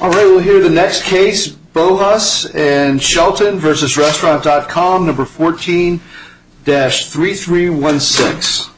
Alright, we'll hear the next case, Bohus and Shelton v.Restaurant.Com, No.14-3316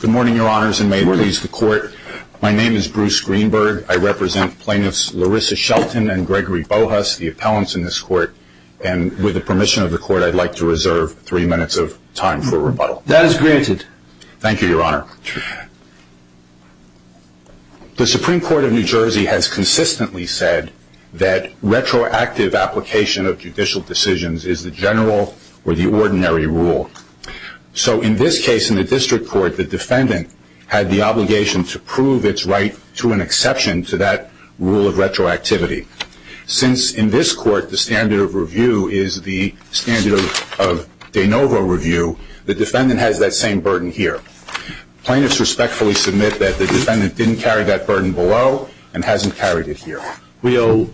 Good morning, your honors, and may it please the court. My name is Bruce Greenberg. I represent plaintiffs Larissa Shelton and Gregory Bohus, the appellants in this court, and with the permission of the court, I'd like to reserve three minutes of time for rebuttal. That is granted. Thank you, your honor. The Supreme Court of New Jersey has consistently said that retroactive application of judicial decisions is the general or the ordinary rule. So in this case, in the district court, the defendant had the obligation to prove its right to an exception to that rule of retroactivity. Since in this court, the standard of review is the standard of de novo review, the defendant has that same burden here. Plaintiffs respectfully submit that the defendant didn't carry that burden below and hasn't carried it here. We owe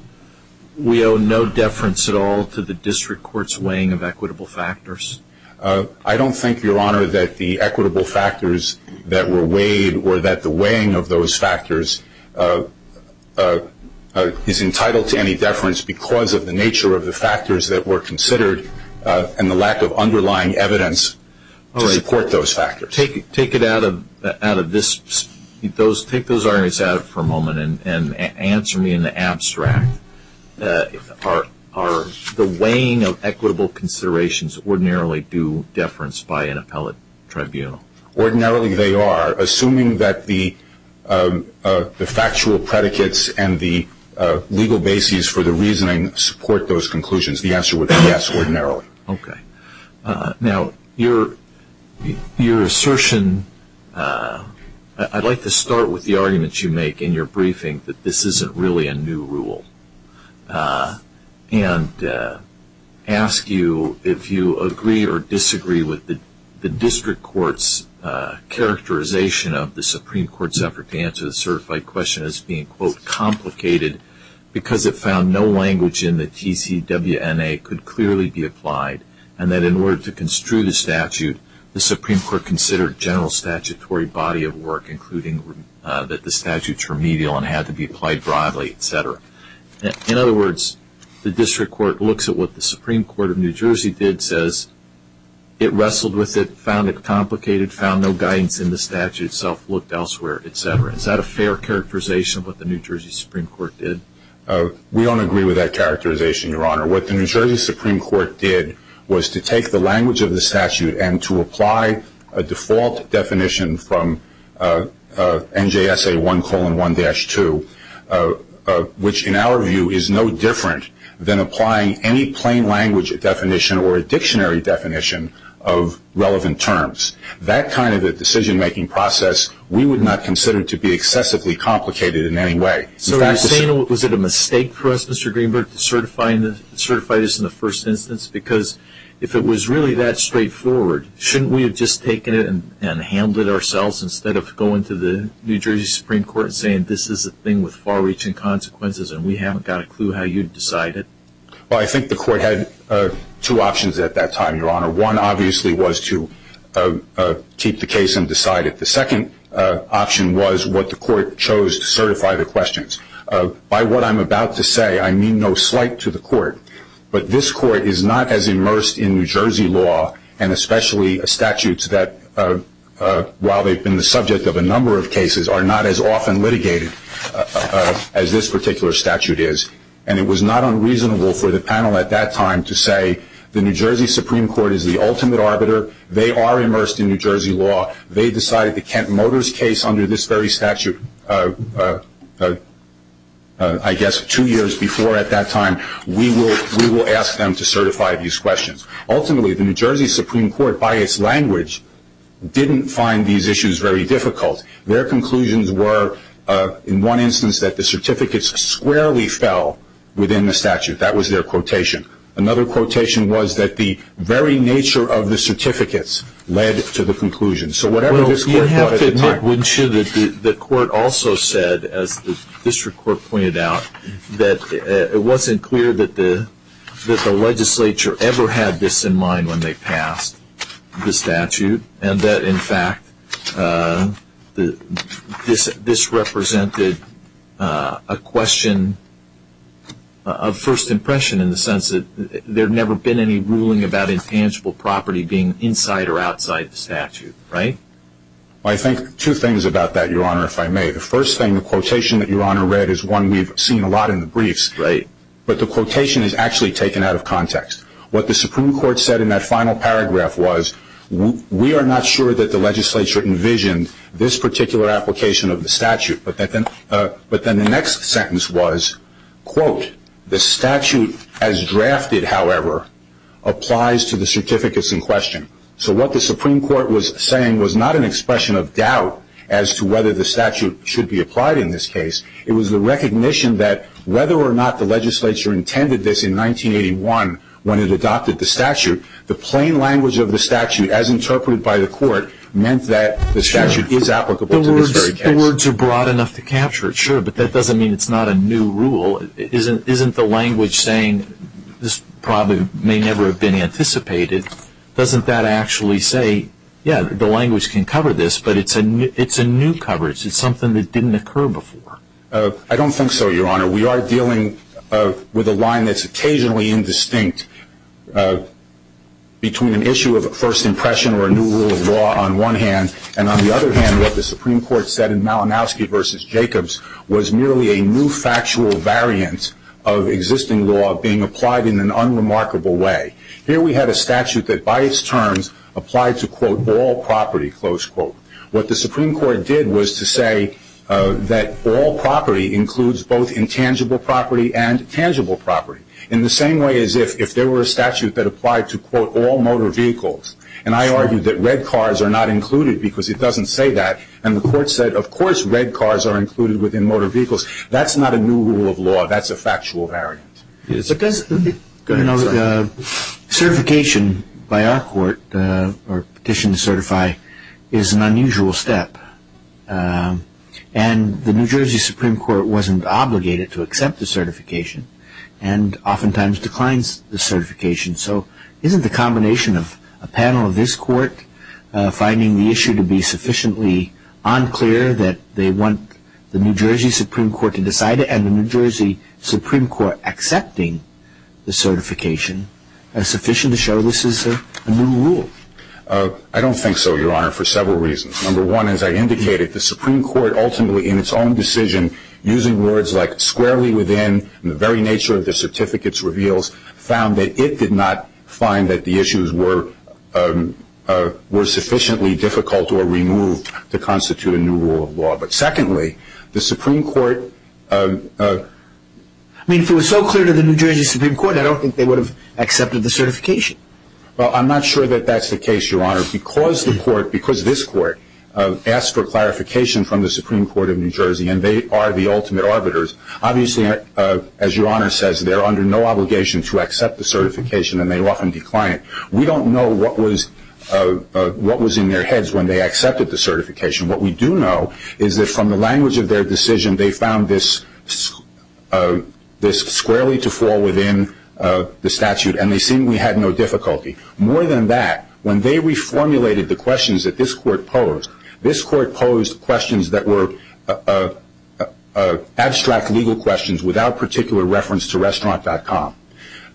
no deference at all to the district court's weighing of equitable factors? I don't think, your honor, that the equitable factors that were weighed or that the weighing of those factors is entitled to any deference because of the nature of the factors that were considered and the lack of underlying evidence to support those factors. Take it out of this. Take those arguments out for a moment and answer me in the abstract. Are the weighing of equitable considerations ordinarily due deference by an appellate tribunal? Ordinarily they are, assuming that the factual predicates and the legal basis for the reasoning support those conclusions. The answer would be yes, ordinarily. Now your assertion, I'd like to start with the arguments you make in your briefing that this isn't really a new rule. And ask you if you agree or disagree with the district court's characterization of the Supreme Court's effort to answer the certified question as being, quote, complicated because it found no language in the TCWNA could clearly be applied and that in order to construe the statute, the Supreme Court considered general statutory body of work, including that the statutes were medial and had to be applied broadly, et cetera. In other words, the district court looks at what the Supreme Court of New Jersey did, says it wrestled with it, found it complicated, found no guidance in the statute itself, looked elsewhere, et cetera. Is that a fair characterization of what the New Jersey Supreme Court did? We don't agree with that characterization, Your Honor. What the New Jersey Supreme Court did was to take the language of the statute and to apply a default definition from NJSA 1,1-2, which in our view is no different than applying any plain language definition or a dictionary definition of relevant terms. That kind of a decision-making process we would not consider to be excessively complicated in any way. So you're saying, was it a mistake for us, Mr. Greenberg, to certify this in the first instance? Because if it was really that straightforward, shouldn't we have just taken it and handled it ourselves instead of going to the New Jersey Supreme Court and saying, this is a thing with far-reaching consequences and we haven't got a clue how you'd decide it? Well, I think the court had two options at that time, Your Honor. One obviously was to keep the case undecided. The second option was what the court chose to certify the questions. By what I'm about to say, I mean no slight to the court, but this court is not as immersed in New Jersey law and especially statutes that, while they've been the subject of a number of cases, are not as often litigated as this particular statute is. And it was not unreasonable for the panel at that time to say, the New Jersey Supreme Court is the ultimate arbiter. They are immersed in New Jersey law. They decided the Kent Motors case under this very statute, I guess, two years before at that time. We will ask them to certify these questions. Ultimately, the New Jersey Supreme Court, by its language, didn't find these issues very difficult. Their conclusions were, in one instance, that the certificates squarely fell within the jurisdiction. Another quotation was that the very nature of the certificates led to the conclusion. So whatever this court thought at the time was... Well, you have to make sure that the court also said, as the district court pointed out, that it wasn't clear that the legislature ever had this in mind when they passed the statute and that, in fact, this represented a question of first impression in the sense that there had never been any ruling about intangible property being inside or outside the statute, right? I think two things about that, Your Honor, if I may. The first thing, the quotation that Your Honor read is one we've seen a lot in the briefs. But the quotation is actually taken out of context. What the Supreme Court said in that final paragraph was, we are not sure that the legislature envisioned this particular application of the statute. But then the next sentence was, quote, the statute as drafted, however, applies to the certificates in question. So what the Supreme Court was saying was not an expression of doubt as to whether the statute should be applied in this case. It was the recognition that whether or not the legislature intended this in 1981 when it adopted the statute, the plain language of the statute, as interpreted by the court, meant that the statute is applicable to this very case. The words are broad enough to capture it, sure, but that doesn't mean it's not a new rule. Isn't the language saying this probably may never have been anticipated, doesn't that actually say, yeah, the language can cover this, but it's a new coverage, it's something that didn't occur before? I don't think so, Your Honor. We are dealing with a line that's occasionally indistinct between an issue of a first impression or a new rule of law on one hand, and on the other hand, what the Supreme Court said in Malinowski v. Jacobs was merely a new factual variant of existing law being applied in an unremarkable way. Here we had a statute that by its terms applied to, quote, all property, close quote. What the Supreme Court did was to say that all property includes both intangible property and tangible property, in the same way as if there were a statute that applied to, quote, all motor vehicles. And I argued that red cars are not included because it doesn't say that, and the court said, of course red cars are included within motor vehicles. That's not a new rule of law, that's a factual variant. Certification by our court, or petition to certify, is an unusual step. And the New Jersey Supreme Court wasn't obligated to accept the certification, and oftentimes declines the certification, so isn't the combination of a panel of this court finding the issue to be sufficiently unclear that they want the New Jersey Supreme Court to decide it, and the New Jersey Supreme Court accepting the certification sufficient to show this is a new rule? I don't think so, Your Honor, for several reasons. Number one, as I indicated, the Supreme Court, squarely within the very nature of the certificate's reveals, found that it did not find that the issues were sufficiently difficult or removed to constitute a new rule of law. But secondly, the Supreme Court... I mean, if it was so clear to the New Jersey Supreme Court, I don't think they would have accepted the certification. Well, I'm not sure that that's the case, Your Honor, because the court, because this court, asked for clarification from the Supreme Court of New Jersey, and they are the ultimate arbiters. Obviously, as Your Honor says, they're under no obligation to accept the certification, and they often decline it. We don't know what was in their heads when they accepted the certification. What we do know is that from the language of their decision, they found this squarely to fall within the statute, and they seemed to have no difficulty. More than that, when they reformulated the abstract legal questions without particular reference to Restaurant.com,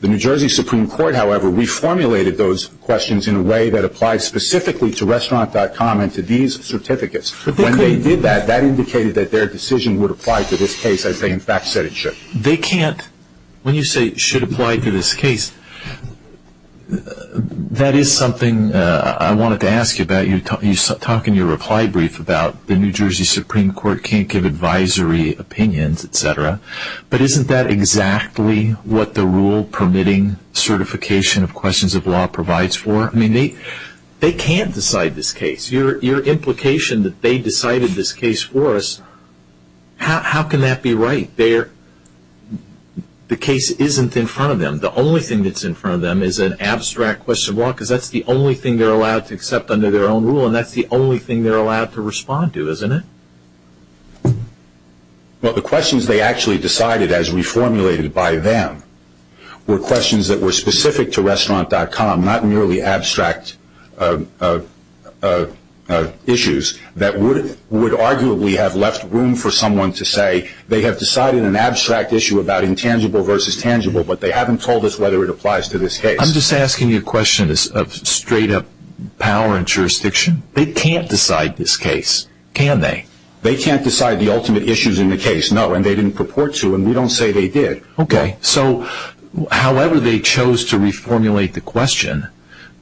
the New Jersey Supreme Court, however, reformulated those questions in a way that applied specifically to Restaurant.com and to these certificates. When they did that, that indicated that their decision would apply to this case, as they in fact said it should. They can't... When you say, should apply to this case, that is something I wanted to ask you about. You talk in your reply brief about the New Jersey Supreme Court can't give advisory opinions, etc. But isn't that exactly what the rule permitting certification of questions of law provides for? They can't decide this case. Your implication that they decided this case for us, how can that be right? The case isn't in front of them. The only thing that's in front of them is an abstract question of law, because that's the only thing they're allowed to respond to, isn't it? The questions they actually decided, as reformulated by them, were questions that were specific to Restaurant.com, not merely abstract issues that would arguably have left room for someone to say they have decided an abstract issue about intangible versus tangible, but they haven't told us whether it applies to this case. I'm just asking you a question of straight up power and jurisdiction. They can't decide this case, can they? They can't decide the ultimate issues in the case, no, and they didn't purport to, and we don't say they did. However they chose to reformulate the question,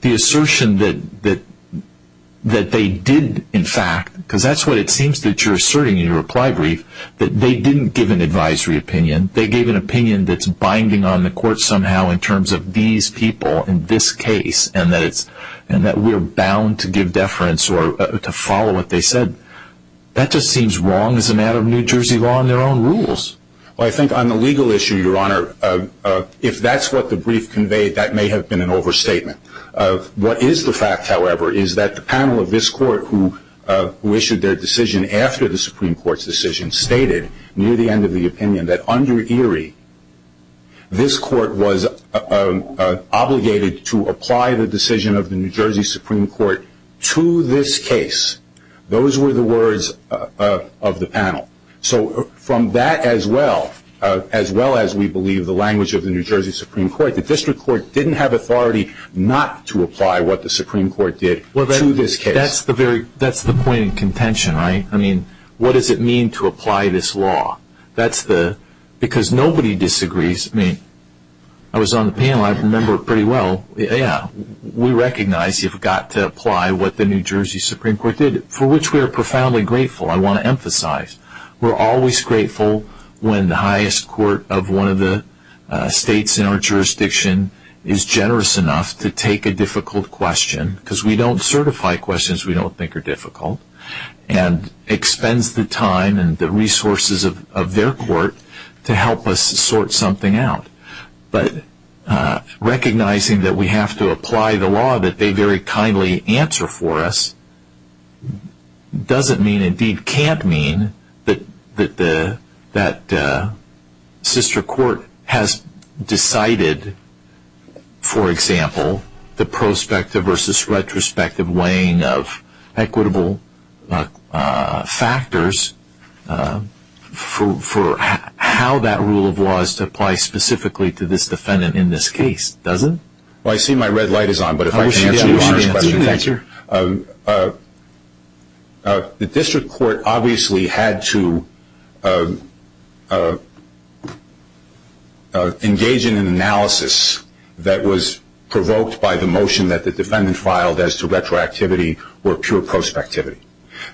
the assertion that they did, in fact, because that's what it seems that you're asserting in your reply brief, that they didn't give an advisory opinion. They gave an opinion that's binding on the court somehow in terms of these people in this case, and that we're bound to give deference or to follow what they said. That just seems wrong as a matter of New Jersey law and their own rules. I think on the legal issue, Your Honor, if that's what the brief conveyed, that may have been an overstatement. What is the fact, however, is that the panel of this court who issued their decision after the Supreme Court's decision stated near the end of the opinion that under Erie, this court was obligated to apply the decision of the New Jersey Supreme Court to this case. Those were the words of the panel. From that as well, as well as we believe the language of the New Jersey Supreme Court, the district court didn't have authority not to apply what the Supreme Court did to this case. That's the point in contention, right? What does it mean to apply this law? Because nobody disagrees. I was on the panel. I remember pretty well. We recognize you've got to apply what the New Jersey Supreme Court did, for which we are profoundly grateful. I want to emphasize. We're always grateful when the highest court of one of the states in our jurisdiction is generous enough to take a difficult question, because we don't certify questions we don't think are difficult, and expends the time and the resources of their court to help us sort something out. Recognizing that we have to apply the law that they very kindly answer for us doesn't mean, indeed can't mean, that the sister court has decided, for example, the prospective versus retrospective weighing of equitable factors for how that rule of law is to apply specifically to this defendant in this case, does it? Well, I see my red light is on, but if I can answer your question. The district court obviously had to engage in an analysis that was provoked by the motion that the defendant filed as to retroactivity or pure prospectivity.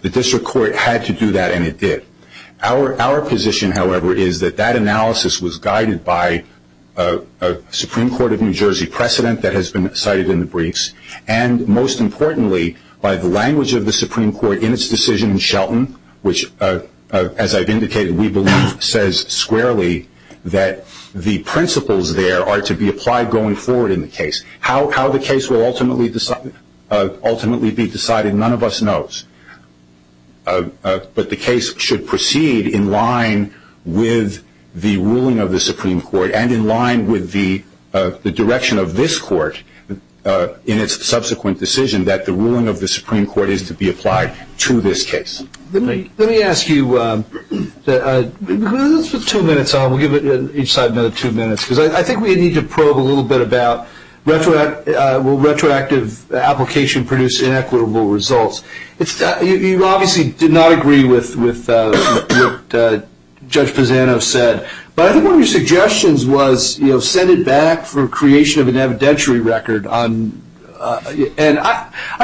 The district court had to do that, and it did. Our position, however, is that that analysis was guided by a Supreme Court of New Jersey precedent that has been cited in the briefs, and most importantly, by the language of the Supreme Court in its decision in Shelton, which, as I've indicated, we believe says squarely that the principles there are to be applied going forward in the case. How the case will ultimately be decided, none of us knows, but the case should proceed in line with the ruling of the Supreme Court and in line with the direction of this court in its subsequent decision that the ruling of the Supreme Court is to be applied to this case. Let me ask you, let's put two minutes on, we'll give each side another two minutes, because I think we need to probe a little bit about will retroactive application produce inequitable results. You obviously did not agree with what Judge Pisano said, but I think one of your suggestions was send it back for creation of an evidentiary record. I'm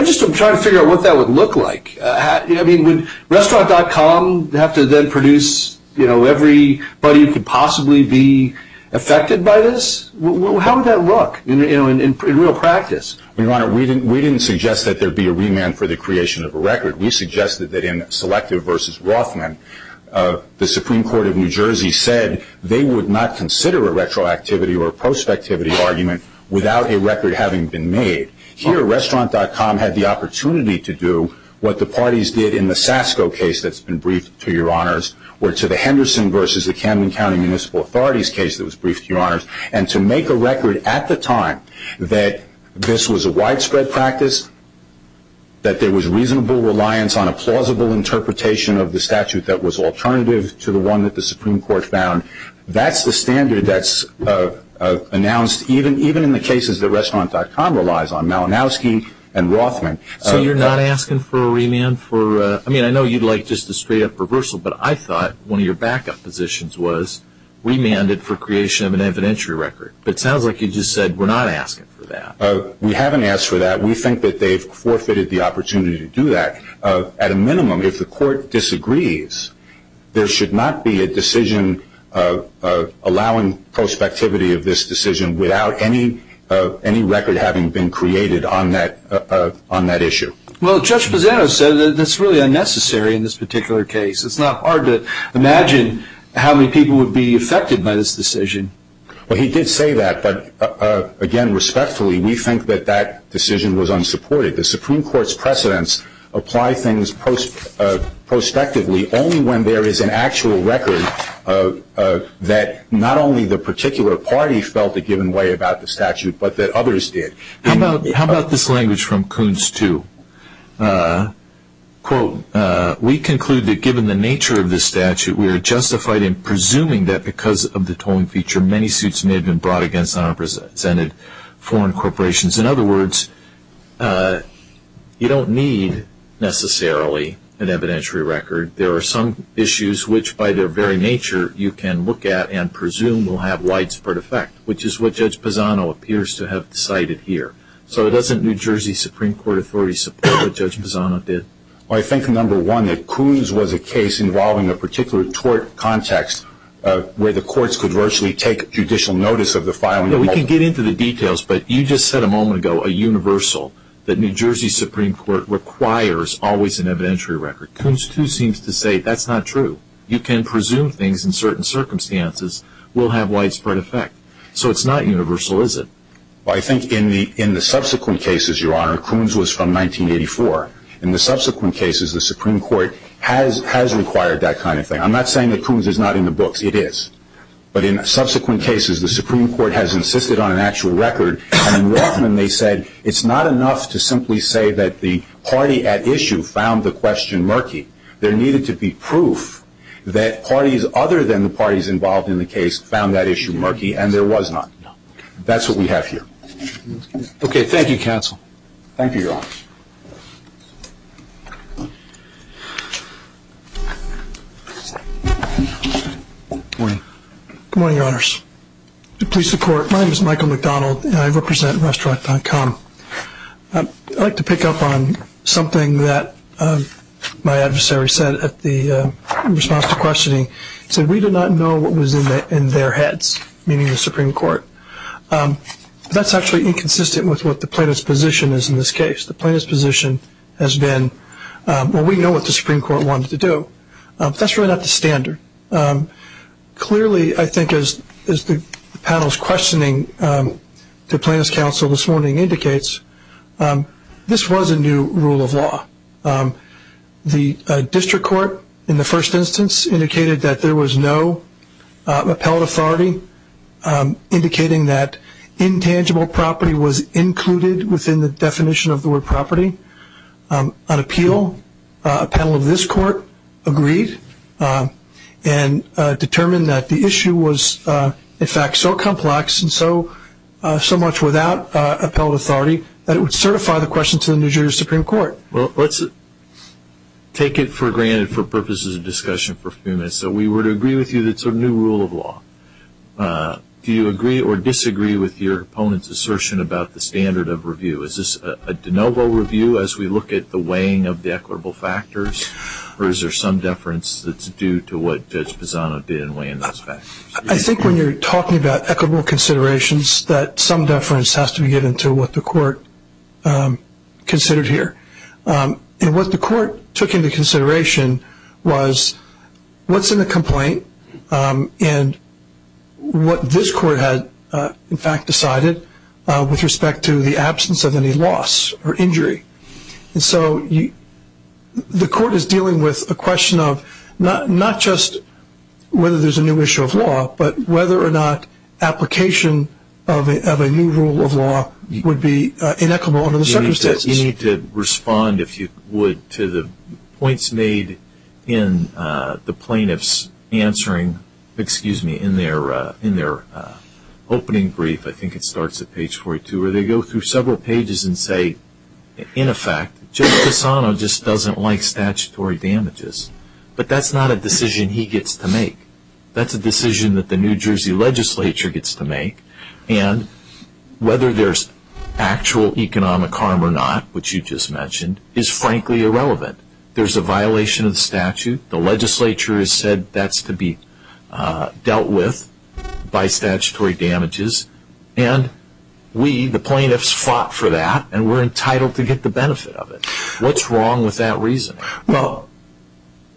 just trying to figure out what that would look like. Would Restaurant.com have to then produce everybody who could possibly be affected by this? How would that look in real practice? We didn't suggest that there be a remand for the creation of a record. We suggested that in Selective v. Rothman, the Supreme Court of New Jersey said they would not consider a retroactivity or a prospectivity argument without a record having been made. Here, Restaurant.com had the opportunity to do what the parties did in the Sasko case that's been briefed, to your honors, or to the Henderson v. Camden County Municipal Authorities case that was briefed, to your honors, and to make a record at the time that this was a widespread practice, that there was reasonable reliance on a plausible interpretation of the statute that was alternative to the one that the Supreme Court found. That's the standard that's announced even in the cases that Restaurant.com relies on, Malinowski and Rothman. So you're not asking for a remand? I mean, I know you'd like just a straight-up reversal, but I thought one of your backup positions was remanded for creation of an evidentiary record. But it sounds like you just said, we're not asking for that. We haven't asked for that. We think that they've forfeited the opportunity to do that. At a minimum, if the Court disagrees, there should not be a decision allowing prospectivity of this decision without any record having been created on that issue. Well, Judge Pisano said that that's really unnecessary in this particular case. It's not hard to imagine how many people would be affected by this decision. Well, he did say that, but again, respectfully, we think that that decision was unsupported. The Supreme Court's precedents apply things prospectively only when there is an actual record that not only the particular party felt a given way about the statute, but that others did. How about this language from Kuhn's two? Quote, we conclude that given the nature of this statute, we are justified in presuming that because of the tolling feature, many suits may have been brought against unrepresented foreign corporations. In other words, you don't need, necessarily, an evidentiary record. There are some issues which, by their very nature, you can look at and presume will have widespread effect, which is what Judge Pisano appears to have cited here. So doesn't New Jersey Supreme Court authorities support what Judge Pisano did? Well, I think, number one, that Kuhn's was a case involving a particular tort context where the courts could virtually take judicial notice of the filing of a lawsuit. We can get into the details, but you just said a moment ago, a universal, that New Jersey Supreme Court requires always an evidentiary record. Kuhn's, too, seems to say that's not true. You can presume things in certain circumstances will have widespread effect. So it's not universal, is it? Well, I think in the subsequent cases, Your Honor, Kuhn's was from 1984. In the subsequent cases, the Supreme Court has required that kind of thing. I'm not saying that Kuhn's is not in the books. It is. But in subsequent cases, the Supreme Court has insisted on an that the party at issue found the question murky. There needed to be proof that parties other than the parties involved in the case found that issue murky, and there was not. That's what we have here. Okay. Thank you, counsel. Thank you, Your Honor. Good morning, Your Honors. To please the Court, my name is Michael McDonald, and I represent restaurant.com. I'd like to pick up on something that my adversary said at the response to questioning. He said we did not know what was in their heads, meaning the Supreme Court. That's actually inconsistent with what the plaintiff's position is in this case. The plaintiff's position has been, well, we know what the Supreme Court wanted to do, but that's really not the standard. Clearly, I think as the panel's questioning to plaintiff's counsel this morning indicates, this was a new rule of law. The district court in the first instance indicated that there was no appellate authority, indicating that intangible property was included within the definition of the word property. On appeal, a panel of this court agreed and determined that the issue was, in fact, so complex and so much without appellate authority that it would certify the question to the New Jersey Supreme Court. Let's take it for granted for purposes of discussion for a few minutes. We would agree with you that it's a new rule of law. Do you agree or disagree with your opponent's assertion about the standard of review? Is this a de novo review as we look at the weighing of the equitable factors, or is there some deference that's due to what Judge Pisano did in weighing those factors? I think when you're talking about equitable considerations, that some deference has to be given to what the court considered here. What the court took into consideration was what's in the complaint and what this court had, in fact, decided with respect to the absence of any loss or injury. The court is dealing with a question of not just whether there's a new issue of law, but whether or not application of a new rule of law would be inequitable under the circumstances. You need to respond, if you would, to the points made in the plaintiff's opening brief. I think it starts at page 42, where they go through several pages and say, in effect, Judge Pisano just doesn't like statutory damages. But that's not a decision he gets to make. That's a decision that the New Jersey legislature gets to make. And whether there's actual economic harm or not, which you just mentioned, is frankly irrelevant. There's a violation of the statute. The legislature has said that's to be dealt with by statutory damages. And we, the plaintiffs, fought for that, and we're entitled to get the benefit of it. What's wrong with that reasoning? Well,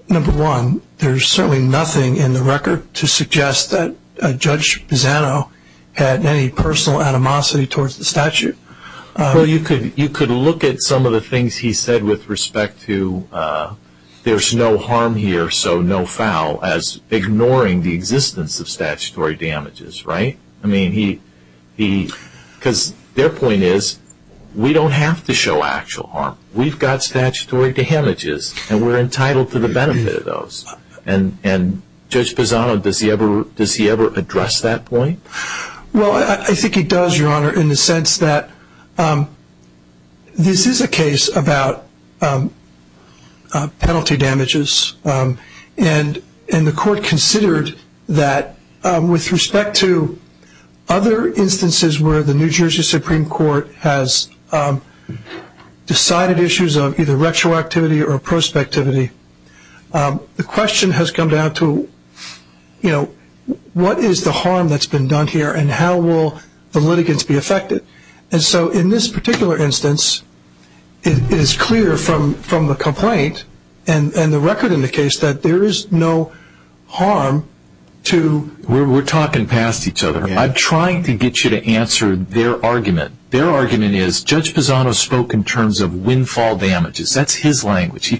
number one, there's certainly nothing in the record to suggest that Judge Pisano had any personal animosity towards the statute. Well, you could look at some of the things he said with respect to, there's no harm here, so no foul, as ignoring the existence of statutory damages, right? I mean, because their point is, we don't have to show actual harm. We've got statutory damages, and we're entitled to the benefit of those. And Judge Pisano, does he ever address that point? Well, I think he does, Your Honor, in the sense that this is a case about penalty damages. And the court considered that with respect to other instances where the New Jersey Supreme Court has decided issues of either retroactivity or prospectivity, the question has come down to, you know, what is the harm that's been done here, and how will the litigants be affected? And so, in this particular instance, it is clear from the complaint and the record in the case that there is no harm to... We're talking past each other. I'm trying to get you to answer their argument. Their argument is, Judge Pisano spoke in terms of windfall damages. That's his language. He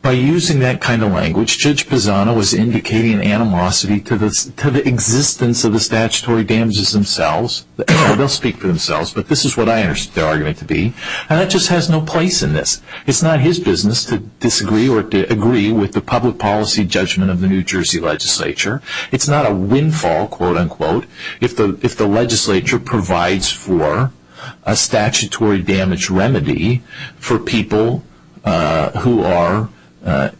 By using that kind of language, Judge Pisano was indicating animosity to the existence of the statutory damages themselves. They'll speak for themselves, but this is what I understand their argument to be. And that just has no place in this. It's not his business to disagree or to agree with the public policy judgment of the New Jersey legislature. It's not a who are,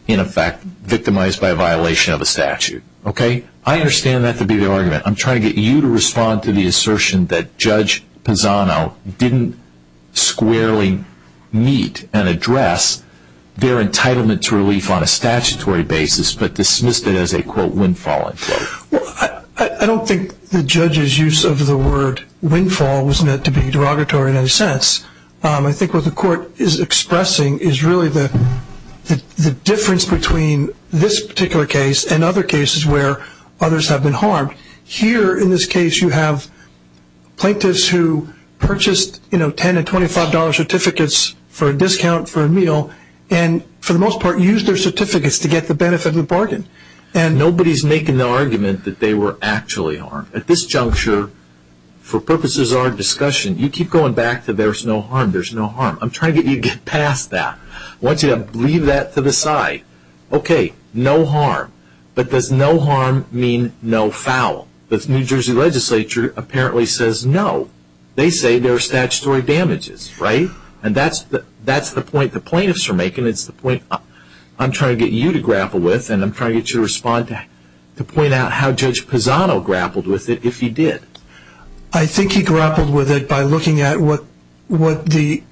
in effect, victimized by a violation of a statute. Okay? I understand that to be the argument. I'm trying to get you to respond to the assertion that Judge Pisano didn't squarely meet and address their entitlement to relief on a statutory basis, but dismissed it as a, quote, windfall. Well, I don't think the judge's use of the word windfall was meant to be derogatory in I think what the court is expressing is really the difference between this particular case and other cases where others have been harmed. Here, in this case, you have plaintiffs who purchased, you know, $10 and $25 certificates for a discount for a meal and, for the most part, used their certificates to get the benefit of the bargain. Nobody's making the argument that they were actually harmed. At this juncture, for purposes of our discussion, you keep going back to there's no harm, there's no harm. I'm trying to get you to get past that. I want you to leave that to the side. Okay, no harm. But does no harm mean no foul? The New Jersey legislature apparently says no. They say there are statutory damages, right? And that's the point the plaintiffs are making. It's the point I'm trying to get you to grapple with and I'm trying to get you to respond to point out how Judge Pisano grappled with it if he did. I think he grappled with it by looking at what the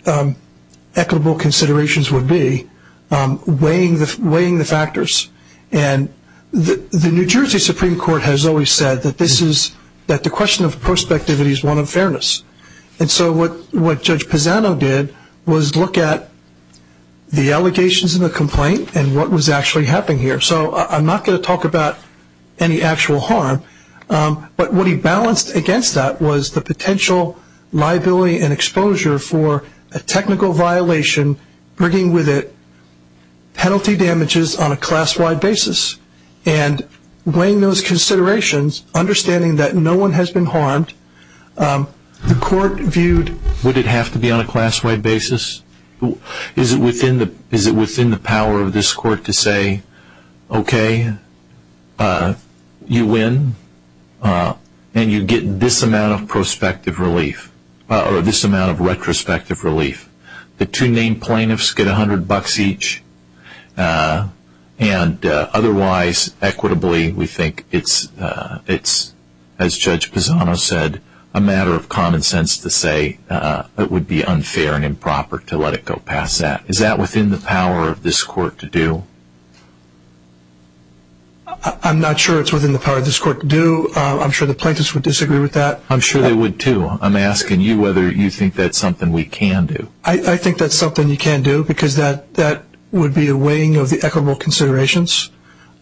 equitable considerations would be, weighing the factors. And the New Jersey Supreme Court has always said that the question of prospectivity is one of fairness. And so what Judge Pisano did was look at the allegations in the complaint and what was actually happening here. So I'm not going to talk about any actual harm, but what he balanced against that was the potential liability and exposure for a technical violation bringing with it penalty damages on a class-wide basis. And weighing those considerations, understanding that no one has been harmed, the court viewed... Would it have to be on a class-wide basis? Is it within the power of this court to say, okay, you win and you get this amount of retrospective relief. The two named plaintiffs get $100 each and otherwise, equitably, we think it's, as Judge Pisano said, a matter of common sense to say it would be unfair and improper to let it go past that. Is that within the power of this court to do? I'm not sure it's within the power of this court to do. I'm sure the plaintiffs would disagree with that. I'm sure they would too. I'm asking you whether you think that's something we can do. I think that's something we can do because that would be a weighing of the equitable considerations.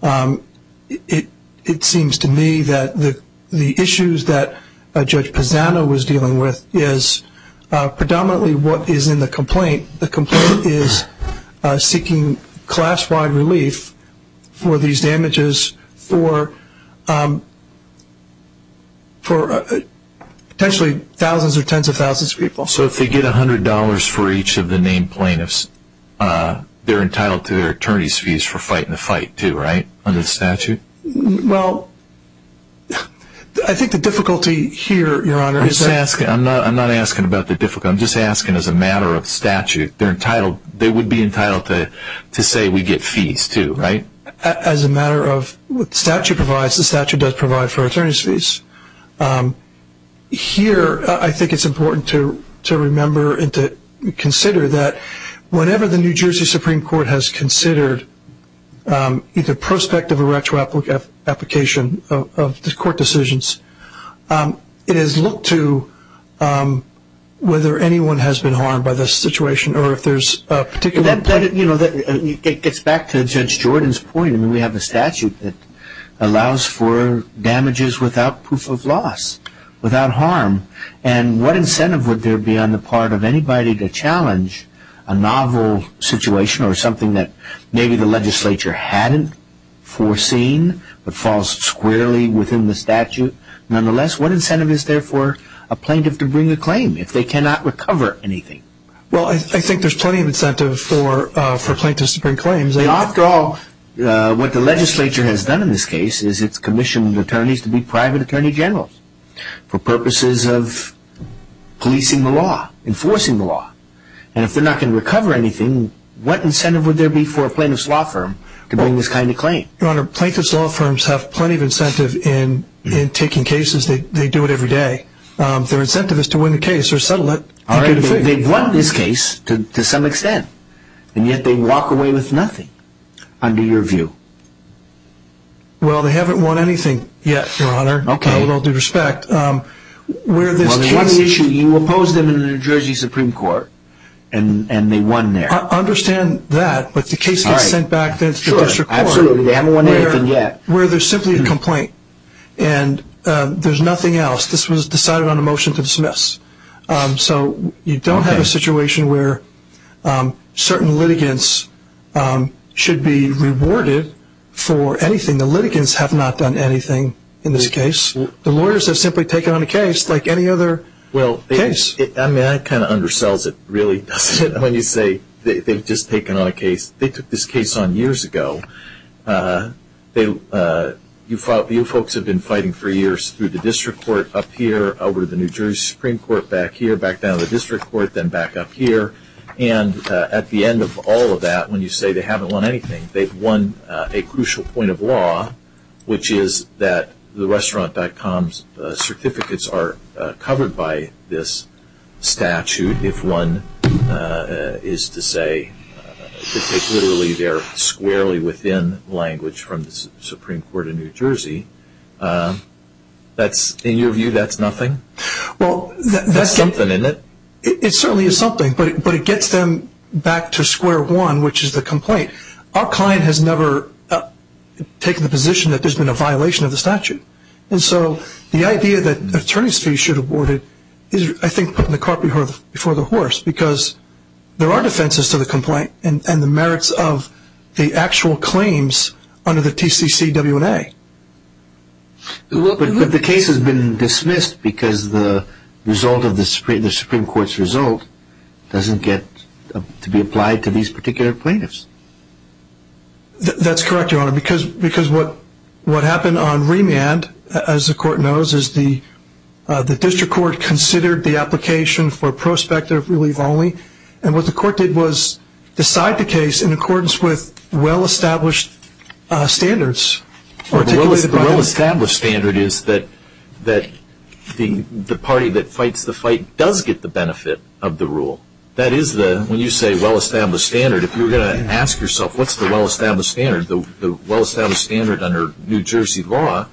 It seems to me that the issues that Judge Pisano was dealing with is predominantly what is in the complaint. The complaint is seeking class-wide relief for these damages for potentially thousands or tens of thousands of people. So if they get $100 for each of the named plaintiffs, they're entitled to their attorney's fees for fighting the fight too, right? Under the statute? Well, I think the difficulty here, Your Honor... I'm not asking about the difficulty. I'm just asking as a matter of statute. They would be entitled to say we get fees too, right? As a matter of what the statute provides, the statute does provide for attorney's fees. Here, I think it's important to remember and to consider that whenever the New Jersey Supreme Court has considered either prospective or retro application of court decisions, it has looked to whether anyone has been harmed by this situation or if there's a particular... It gets back to Judge Jordan's point. We have a statute that allows for damages without proof of loss, without harm, and what incentive would there be on the part of anybody to challenge a novel situation or something that maybe the legislature hadn't foreseen but falls squarely within the statute? Nonetheless, what incentive is there for a plaintiff to bring a claim if they cannot recover anything? Well, I think there's plenty of incentive for plaintiffs to bring claims. After all, what the legislature has done in this case is it's commissioned attorneys to be private attorney generals for purposes of policing the law, enforcing the law. And if they're not going to recover anything, what incentive would there be for a plaintiff's law firm to bring this kind of claim? Your Honor, plaintiff's law firms have plenty of incentive in taking cases. They do it every day. Their incentive is to win the case or settle it. They've won this case to some extent, and yet they walk away with nothing, under your view. Well, they haven't won anything yet, Your Honor, with all due respect. Well, they had an issue. You opposed them in the New Jersey Supreme Court, and they won there. I understand that, but the case gets sent back to the district court where there's simply a complaint, and there's nothing else. This was decided on a motion to dismiss. So you don't have a situation where certain litigants should be rewarded for anything. I mean, the litigants have not done anything in this case. The lawyers have simply taken on a case like any other case. I mean, that kind of undersells it, really, doesn't it, when you say they've just taken on a case. They took this case on years ago. You folks have been fighting for years through the district court up here, over the New Jersey Supreme Court back here, back down to the district court, then back up here. And at the end of all of that, when you say they haven't won anything, they've won a crucial point of law, which is that the restaurant.com certificates are covered by this statute, if one is to say that they're literally squarely within language from the Supreme Court of New Jersey. In your view, that's nothing? No, but it gets them back to square one, which is the complaint. Our client has never taken the position that there's been a violation of the statute. And so the idea that attorneys' fees should have been awarded is, I think, putting the car before the horse, because there are defenses to the complaint and the merits of the actual claims under the TCCW&A. But the case has been dismissed because the Supreme Court's result doesn't get to be applied to these particular plaintiffs. That's correct, Your Honor, because what happened on remand, as the court knows, is the district court considered the application for prospective relief only. And what the court did was decide the case in accordance with well-established standards. Well, the well-established standard is that the party that fights the fight does get the benefit of the rule. That is, when you say well-established standard, if you were going to ask yourself, what's the well-established standard? The well-established standard under New Jersey law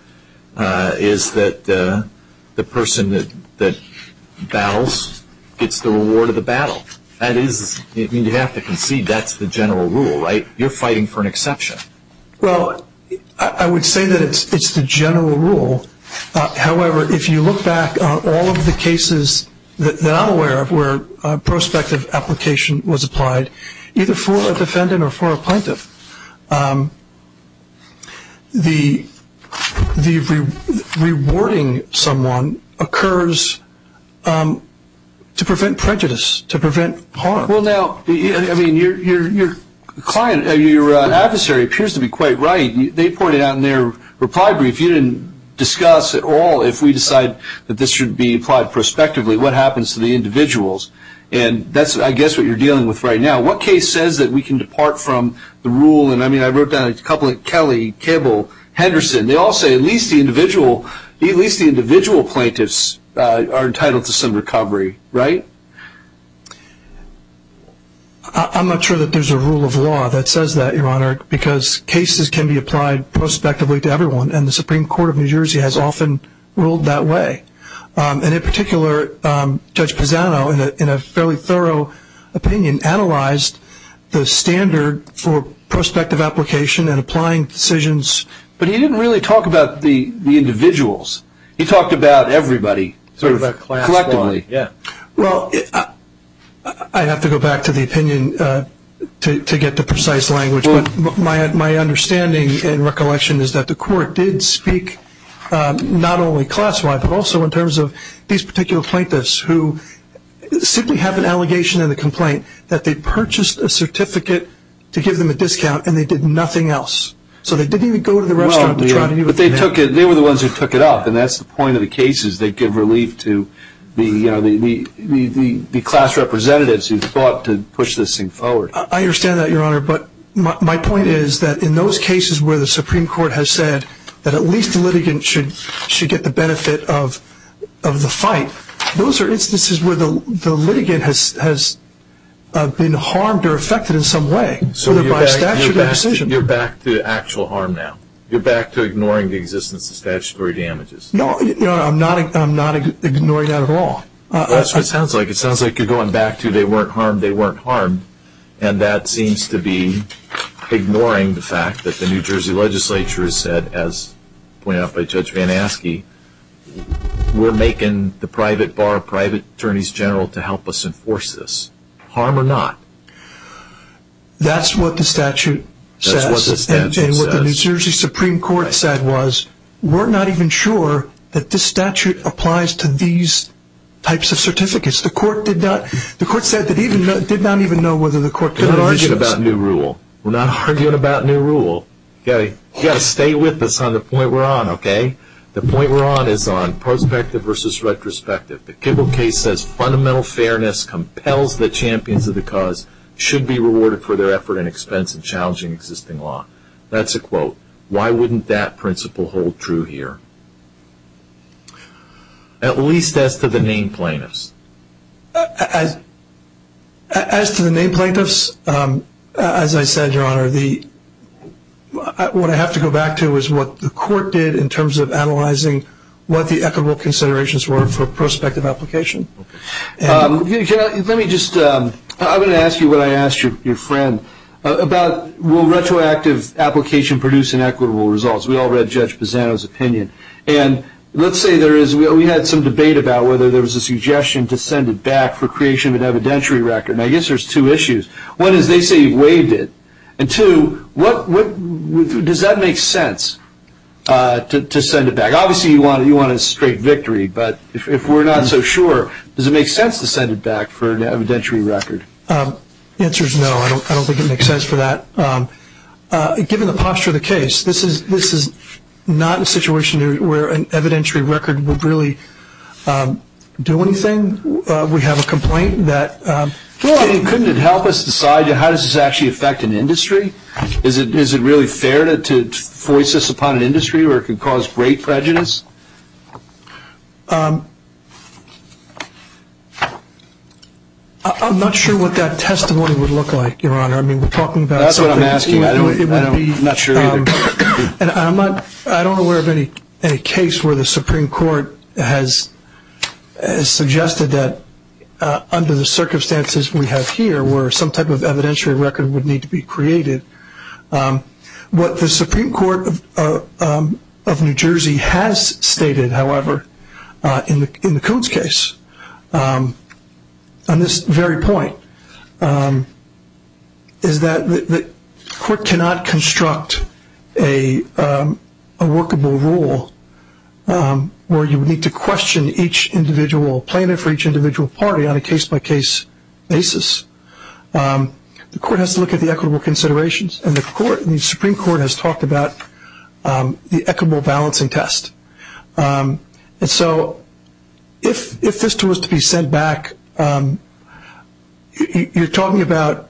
is that the person that battles gets the reward of the battle. That is, you have to concede that's the general rule, right? You're fighting for an exception. Well, I would say that it's the general rule. However, if you look back on all of the cases that I'm aware of where prospective application was applied, either for a defendant or for a plaintiff, the rewarding someone occurs to prevent prejudice, to prevent harm. Well, now, I mean, your adversary appears to be quite right. They pointed out in their reply brief you didn't discuss at all, if we decide that this should be applied prospectively, what happens to the individuals. And that's, I guess, what you're dealing with right now. What case says that we can depart from the rule? And, I mean, I wrote down a couple like Kelly, Kibble, Henderson. They all say at least the individual plaintiffs are entitled to some recovery, right? I'm not sure that there's a rule of law that says that, Your Honor, because cases can be applied prospectively to everyone, and the Supreme Court of New Jersey has often ruled that way. And, in particular, Judge Pisano, in a fairly thorough opinion, analyzed the standard for prospective application and applying decisions. But he didn't really talk about the individuals. He talked about everybody sort of collectively. Well, I have to go back to the opinion to get to precise language. My understanding and recollection is that the court did speak not only class-wide, but also in terms of these particular plaintiffs who simply have an allegation in the complaint that they purchased a certificate to give them a discount and they did nothing else. So they didn't even go to the restaurant to try to do it. But they were the ones who took it off, and that's the point of the cases. They give relief to the class representatives who fought to push this thing forward. I understand that, Your Honor, but my point is that in those cases where the Supreme Court has said that at least the litigant should get the benefit of the fight, those are instances where the litigant has been harmed or affected in some way, whether by statute or decision. So you're back to actual harm now? You're back to ignoring the existence of statutory damages? No, Your Honor, I'm not ignoring that at all. That's what it sounds like. It sounds like you're going back to they weren't harmed, they weren't harmed, and that seems to be ignoring the fact that the New Jersey legislature has said, as pointed out by Judge Van Aske, we're making the private bar private attorneys general to help us enforce this. Harm or not? That's what the statute says. That's what the statute says. And what the New Jersey Supreme Court said was, we're not even sure that this statute applies to these types of certificates. The court said that it did not even know whether the court could argue this. We're not arguing about new rule. You've got to stay with us on the point we're on, okay? The point we're on is on prospective versus retrospective. The Kibble case says fundamental fairness compels the champions of the cause, should be rewarded for their effort and expense in challenging existing law. That's a quote. Why wouldn't that principle hold true here, at least as to the named plaintiffs? As to the named plaintiffs, as I said, Your Honor, what I have to go back to is what the court did in terms of analyzing what the equitable considerations were for prospective application. Let me just, I'm going to ask you what I asked your friend, about will retroactive application produce inequitable results. We all read Judge Pisano's opinion. And let's say there is, we had some debate about whether there was a suggestion to send it back for creation of an evidentiary record. And I guess there's two issues. One is they say you've waived it. And two, does that make sense to send it back? Obviously, you want a straight victory. But if we're not so sure, does it make sense to send it back for an evidentiary record? The answer is no. I don't think it makes sense for that. Given the posture of the case, this is not a situation where an evidentiary record would really do anything. We have a complaint that Well, couldn't it help us decide how does this actually affect an industry? Is it really fair to voice this upon an industry where it could cause great prejudice? I'm not sure what that testimony would look like, Your Honor. I mean, we're talking about something That's what I'm asking. I'm not sure either. I don't know of any case where the Supreme Court has suggested that under the circumstances we have here where some type of evidentiary record would need to be created. What the Supreme Court of New Jersey has stated, however, in the Coons case on this very point, is that the court cannot construct a workable rule where you would need to question each individual plaintiff or each individual party on a case-by-case basis. The court has to look at the equitable considerations, and the Supreme Court has talked about the equitable balancing test. So if this was to be sent back, you're talking about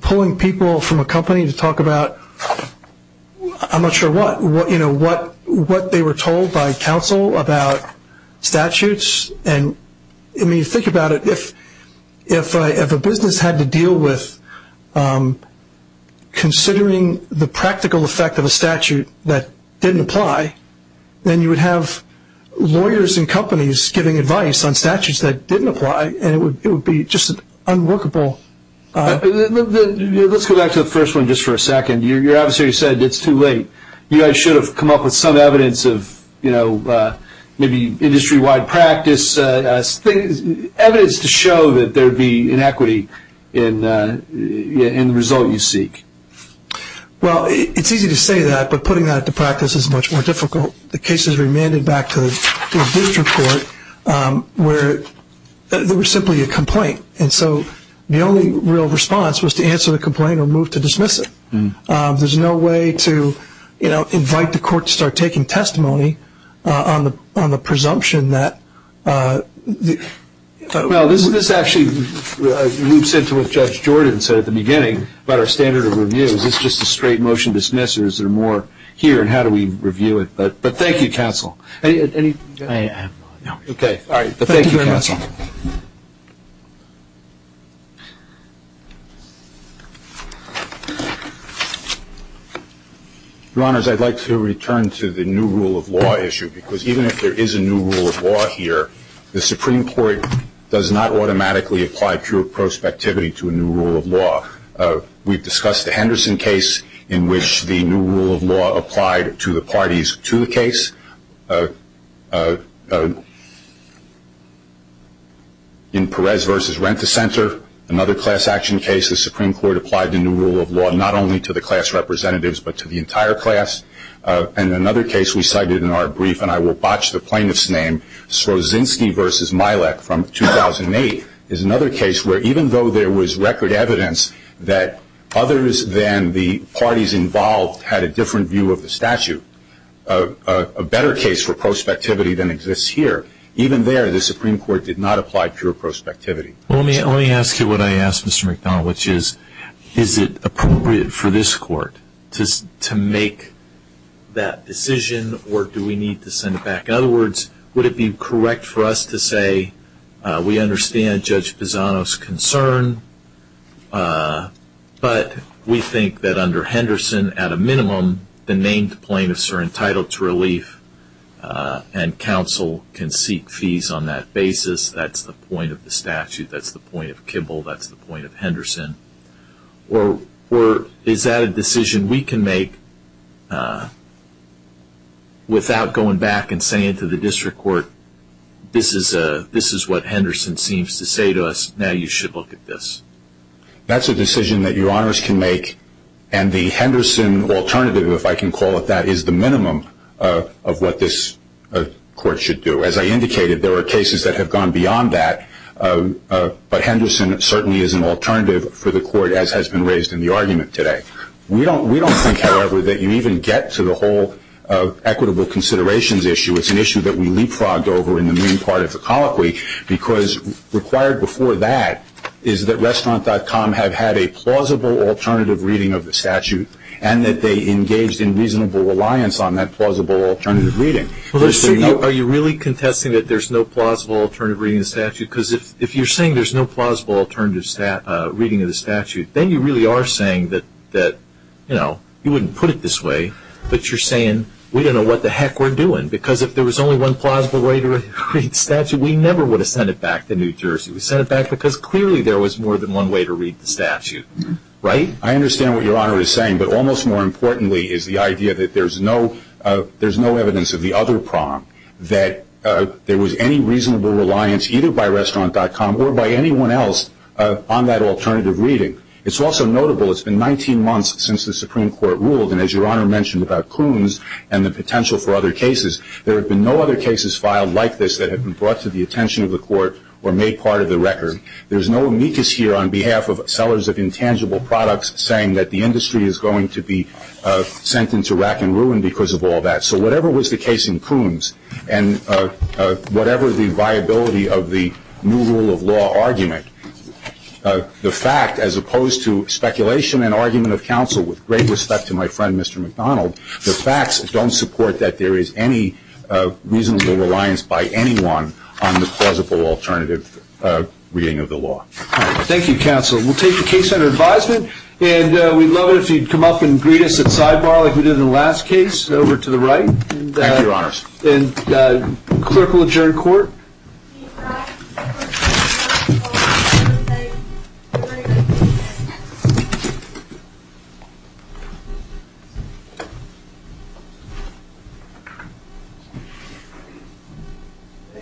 pulling people from a company to talk about I'm not sure what, what they were told by counsel about statutes. I mean, think about it. If a business had to deal with considering the practical effect of a statute that didn't apply, then you would have lawyers and companies giving advice on statutes that didn't apply, and it would be just unworkable. Let's go back to the first one just for a second. You obviously said it's too late. You guys should have come up with some evidence of maybe industry-wide practice, evidence to show that there would be inequity in the result you seek. Well, it's easy to say that, but putting that into practice is much more difficult. The cases remanded back to the district court where there was simply a complaint, and so the only real response was to answer the complaint or move to dismiss it. There's no way to invite the court to start taking testimony on the presumption that the Well, this actually loops into what Judge Jordan said at the beginning about our standard of review. Is this just a straight motion to dismiss, or is there more here, and how do we review it? But thank you, counsel. I have no idea. Okay. All right. But thank you, counsel. Your Honors, I'd like to return to the new rule of law issue, because even if there is a new rule of law here, the Supreme Court does not automatically apply pure prospectivity to a new rule of law. We've discussed the Henderson case in which the new rule of law applied to the parties to the case. In Perez v. Rent-a-Center, another class action case, the Supreme Court applied the new rule of law not only to the class representatives but to the entire class. And another case we cited in our brief, and I will botch the plaintiff's name, Slozinski v. Mielek from 2008, is another case where even though there was record evidence that others than the parties involved had a different view of the statute, a better case for prospectivity than exists here, even there, the Supreme Court did not apply pure prospectivity. Well, let me ask you what I asked Mr. McDonald, which is, is it appropriate for this Court to make that decision or do we need to send it back? In other words, would it be correct for us to say we understand Judge Pisano's concern, but we think that under Henderson, at a minimum, the named plaintiffs are entitled to relief and counsel can seek fees on that basis. That's the point of the statute. That's the point of Kibble. That's the point of Henderson. Or is that a decision we can make without going back and saying to the district court, this is what Henderson seems to say to us, now you should look at this? That's a decision that your honors can make, and the Henderson alternative, if I can call it that, is the minimum of what this Court should do. As I indicated, there are cases that have gone beyond that, but Henderson certainly is an alternative for the Court as has been raised in the argument today. We don't think, however, that you even get to the whole equitable considerations issue. It's an issue that we leapfrogged over in the main part of the colloquy because required before that is that restaurant.com have had a plausible alternative reading of the statute and that they engaged in reasonable reliance on that plausible alternative reading. Are you really contesting that there's no plausible alternative reading of the statute? Because if you're saying there's no plausible alternative reading of the statute, then you really are saying that, you know, you wouldn't put it this way, but you're saying we don't know what the heck we're doing. Because if there was only one plausible way to read the statute, we never would have sent it back to New Jersey. We sent it back because clearly there was more than one way to read the statute, right? I understand what your honor is saying, but almost more importantly is the idea that there's no evidence of the other prong, that there was any reasonable reliance either by restaurant.com or by anyone else on that alternative reading. It's also notable it's been 19 months since the Supreme Court ruled, and as your honor mentioned about Coons and the potential for other cases, there have been no other cases filed like this that have been brought to the attention of the Court or made part of the record. There's no amicus here on behalf of sellers of intangible products saying that the industry is going to be sent into rack and ruin because of all that. So whatever was the case in Coons, and whatever the viability of the new rule of law argument, the fact, as opposed to speculation and argument of counsel, with great respect to my friend Mr. McDonald, the facts don't support that there is any reasonable reliance by anyone on the plausible alternative reading of the law. Thank you, counsel. We'll take the case under advisement, and we'd love it if you'd come up and greet us at sidebar like we did in the last case, over to the right. Thank you, your honors. And the clerk will adjourn court.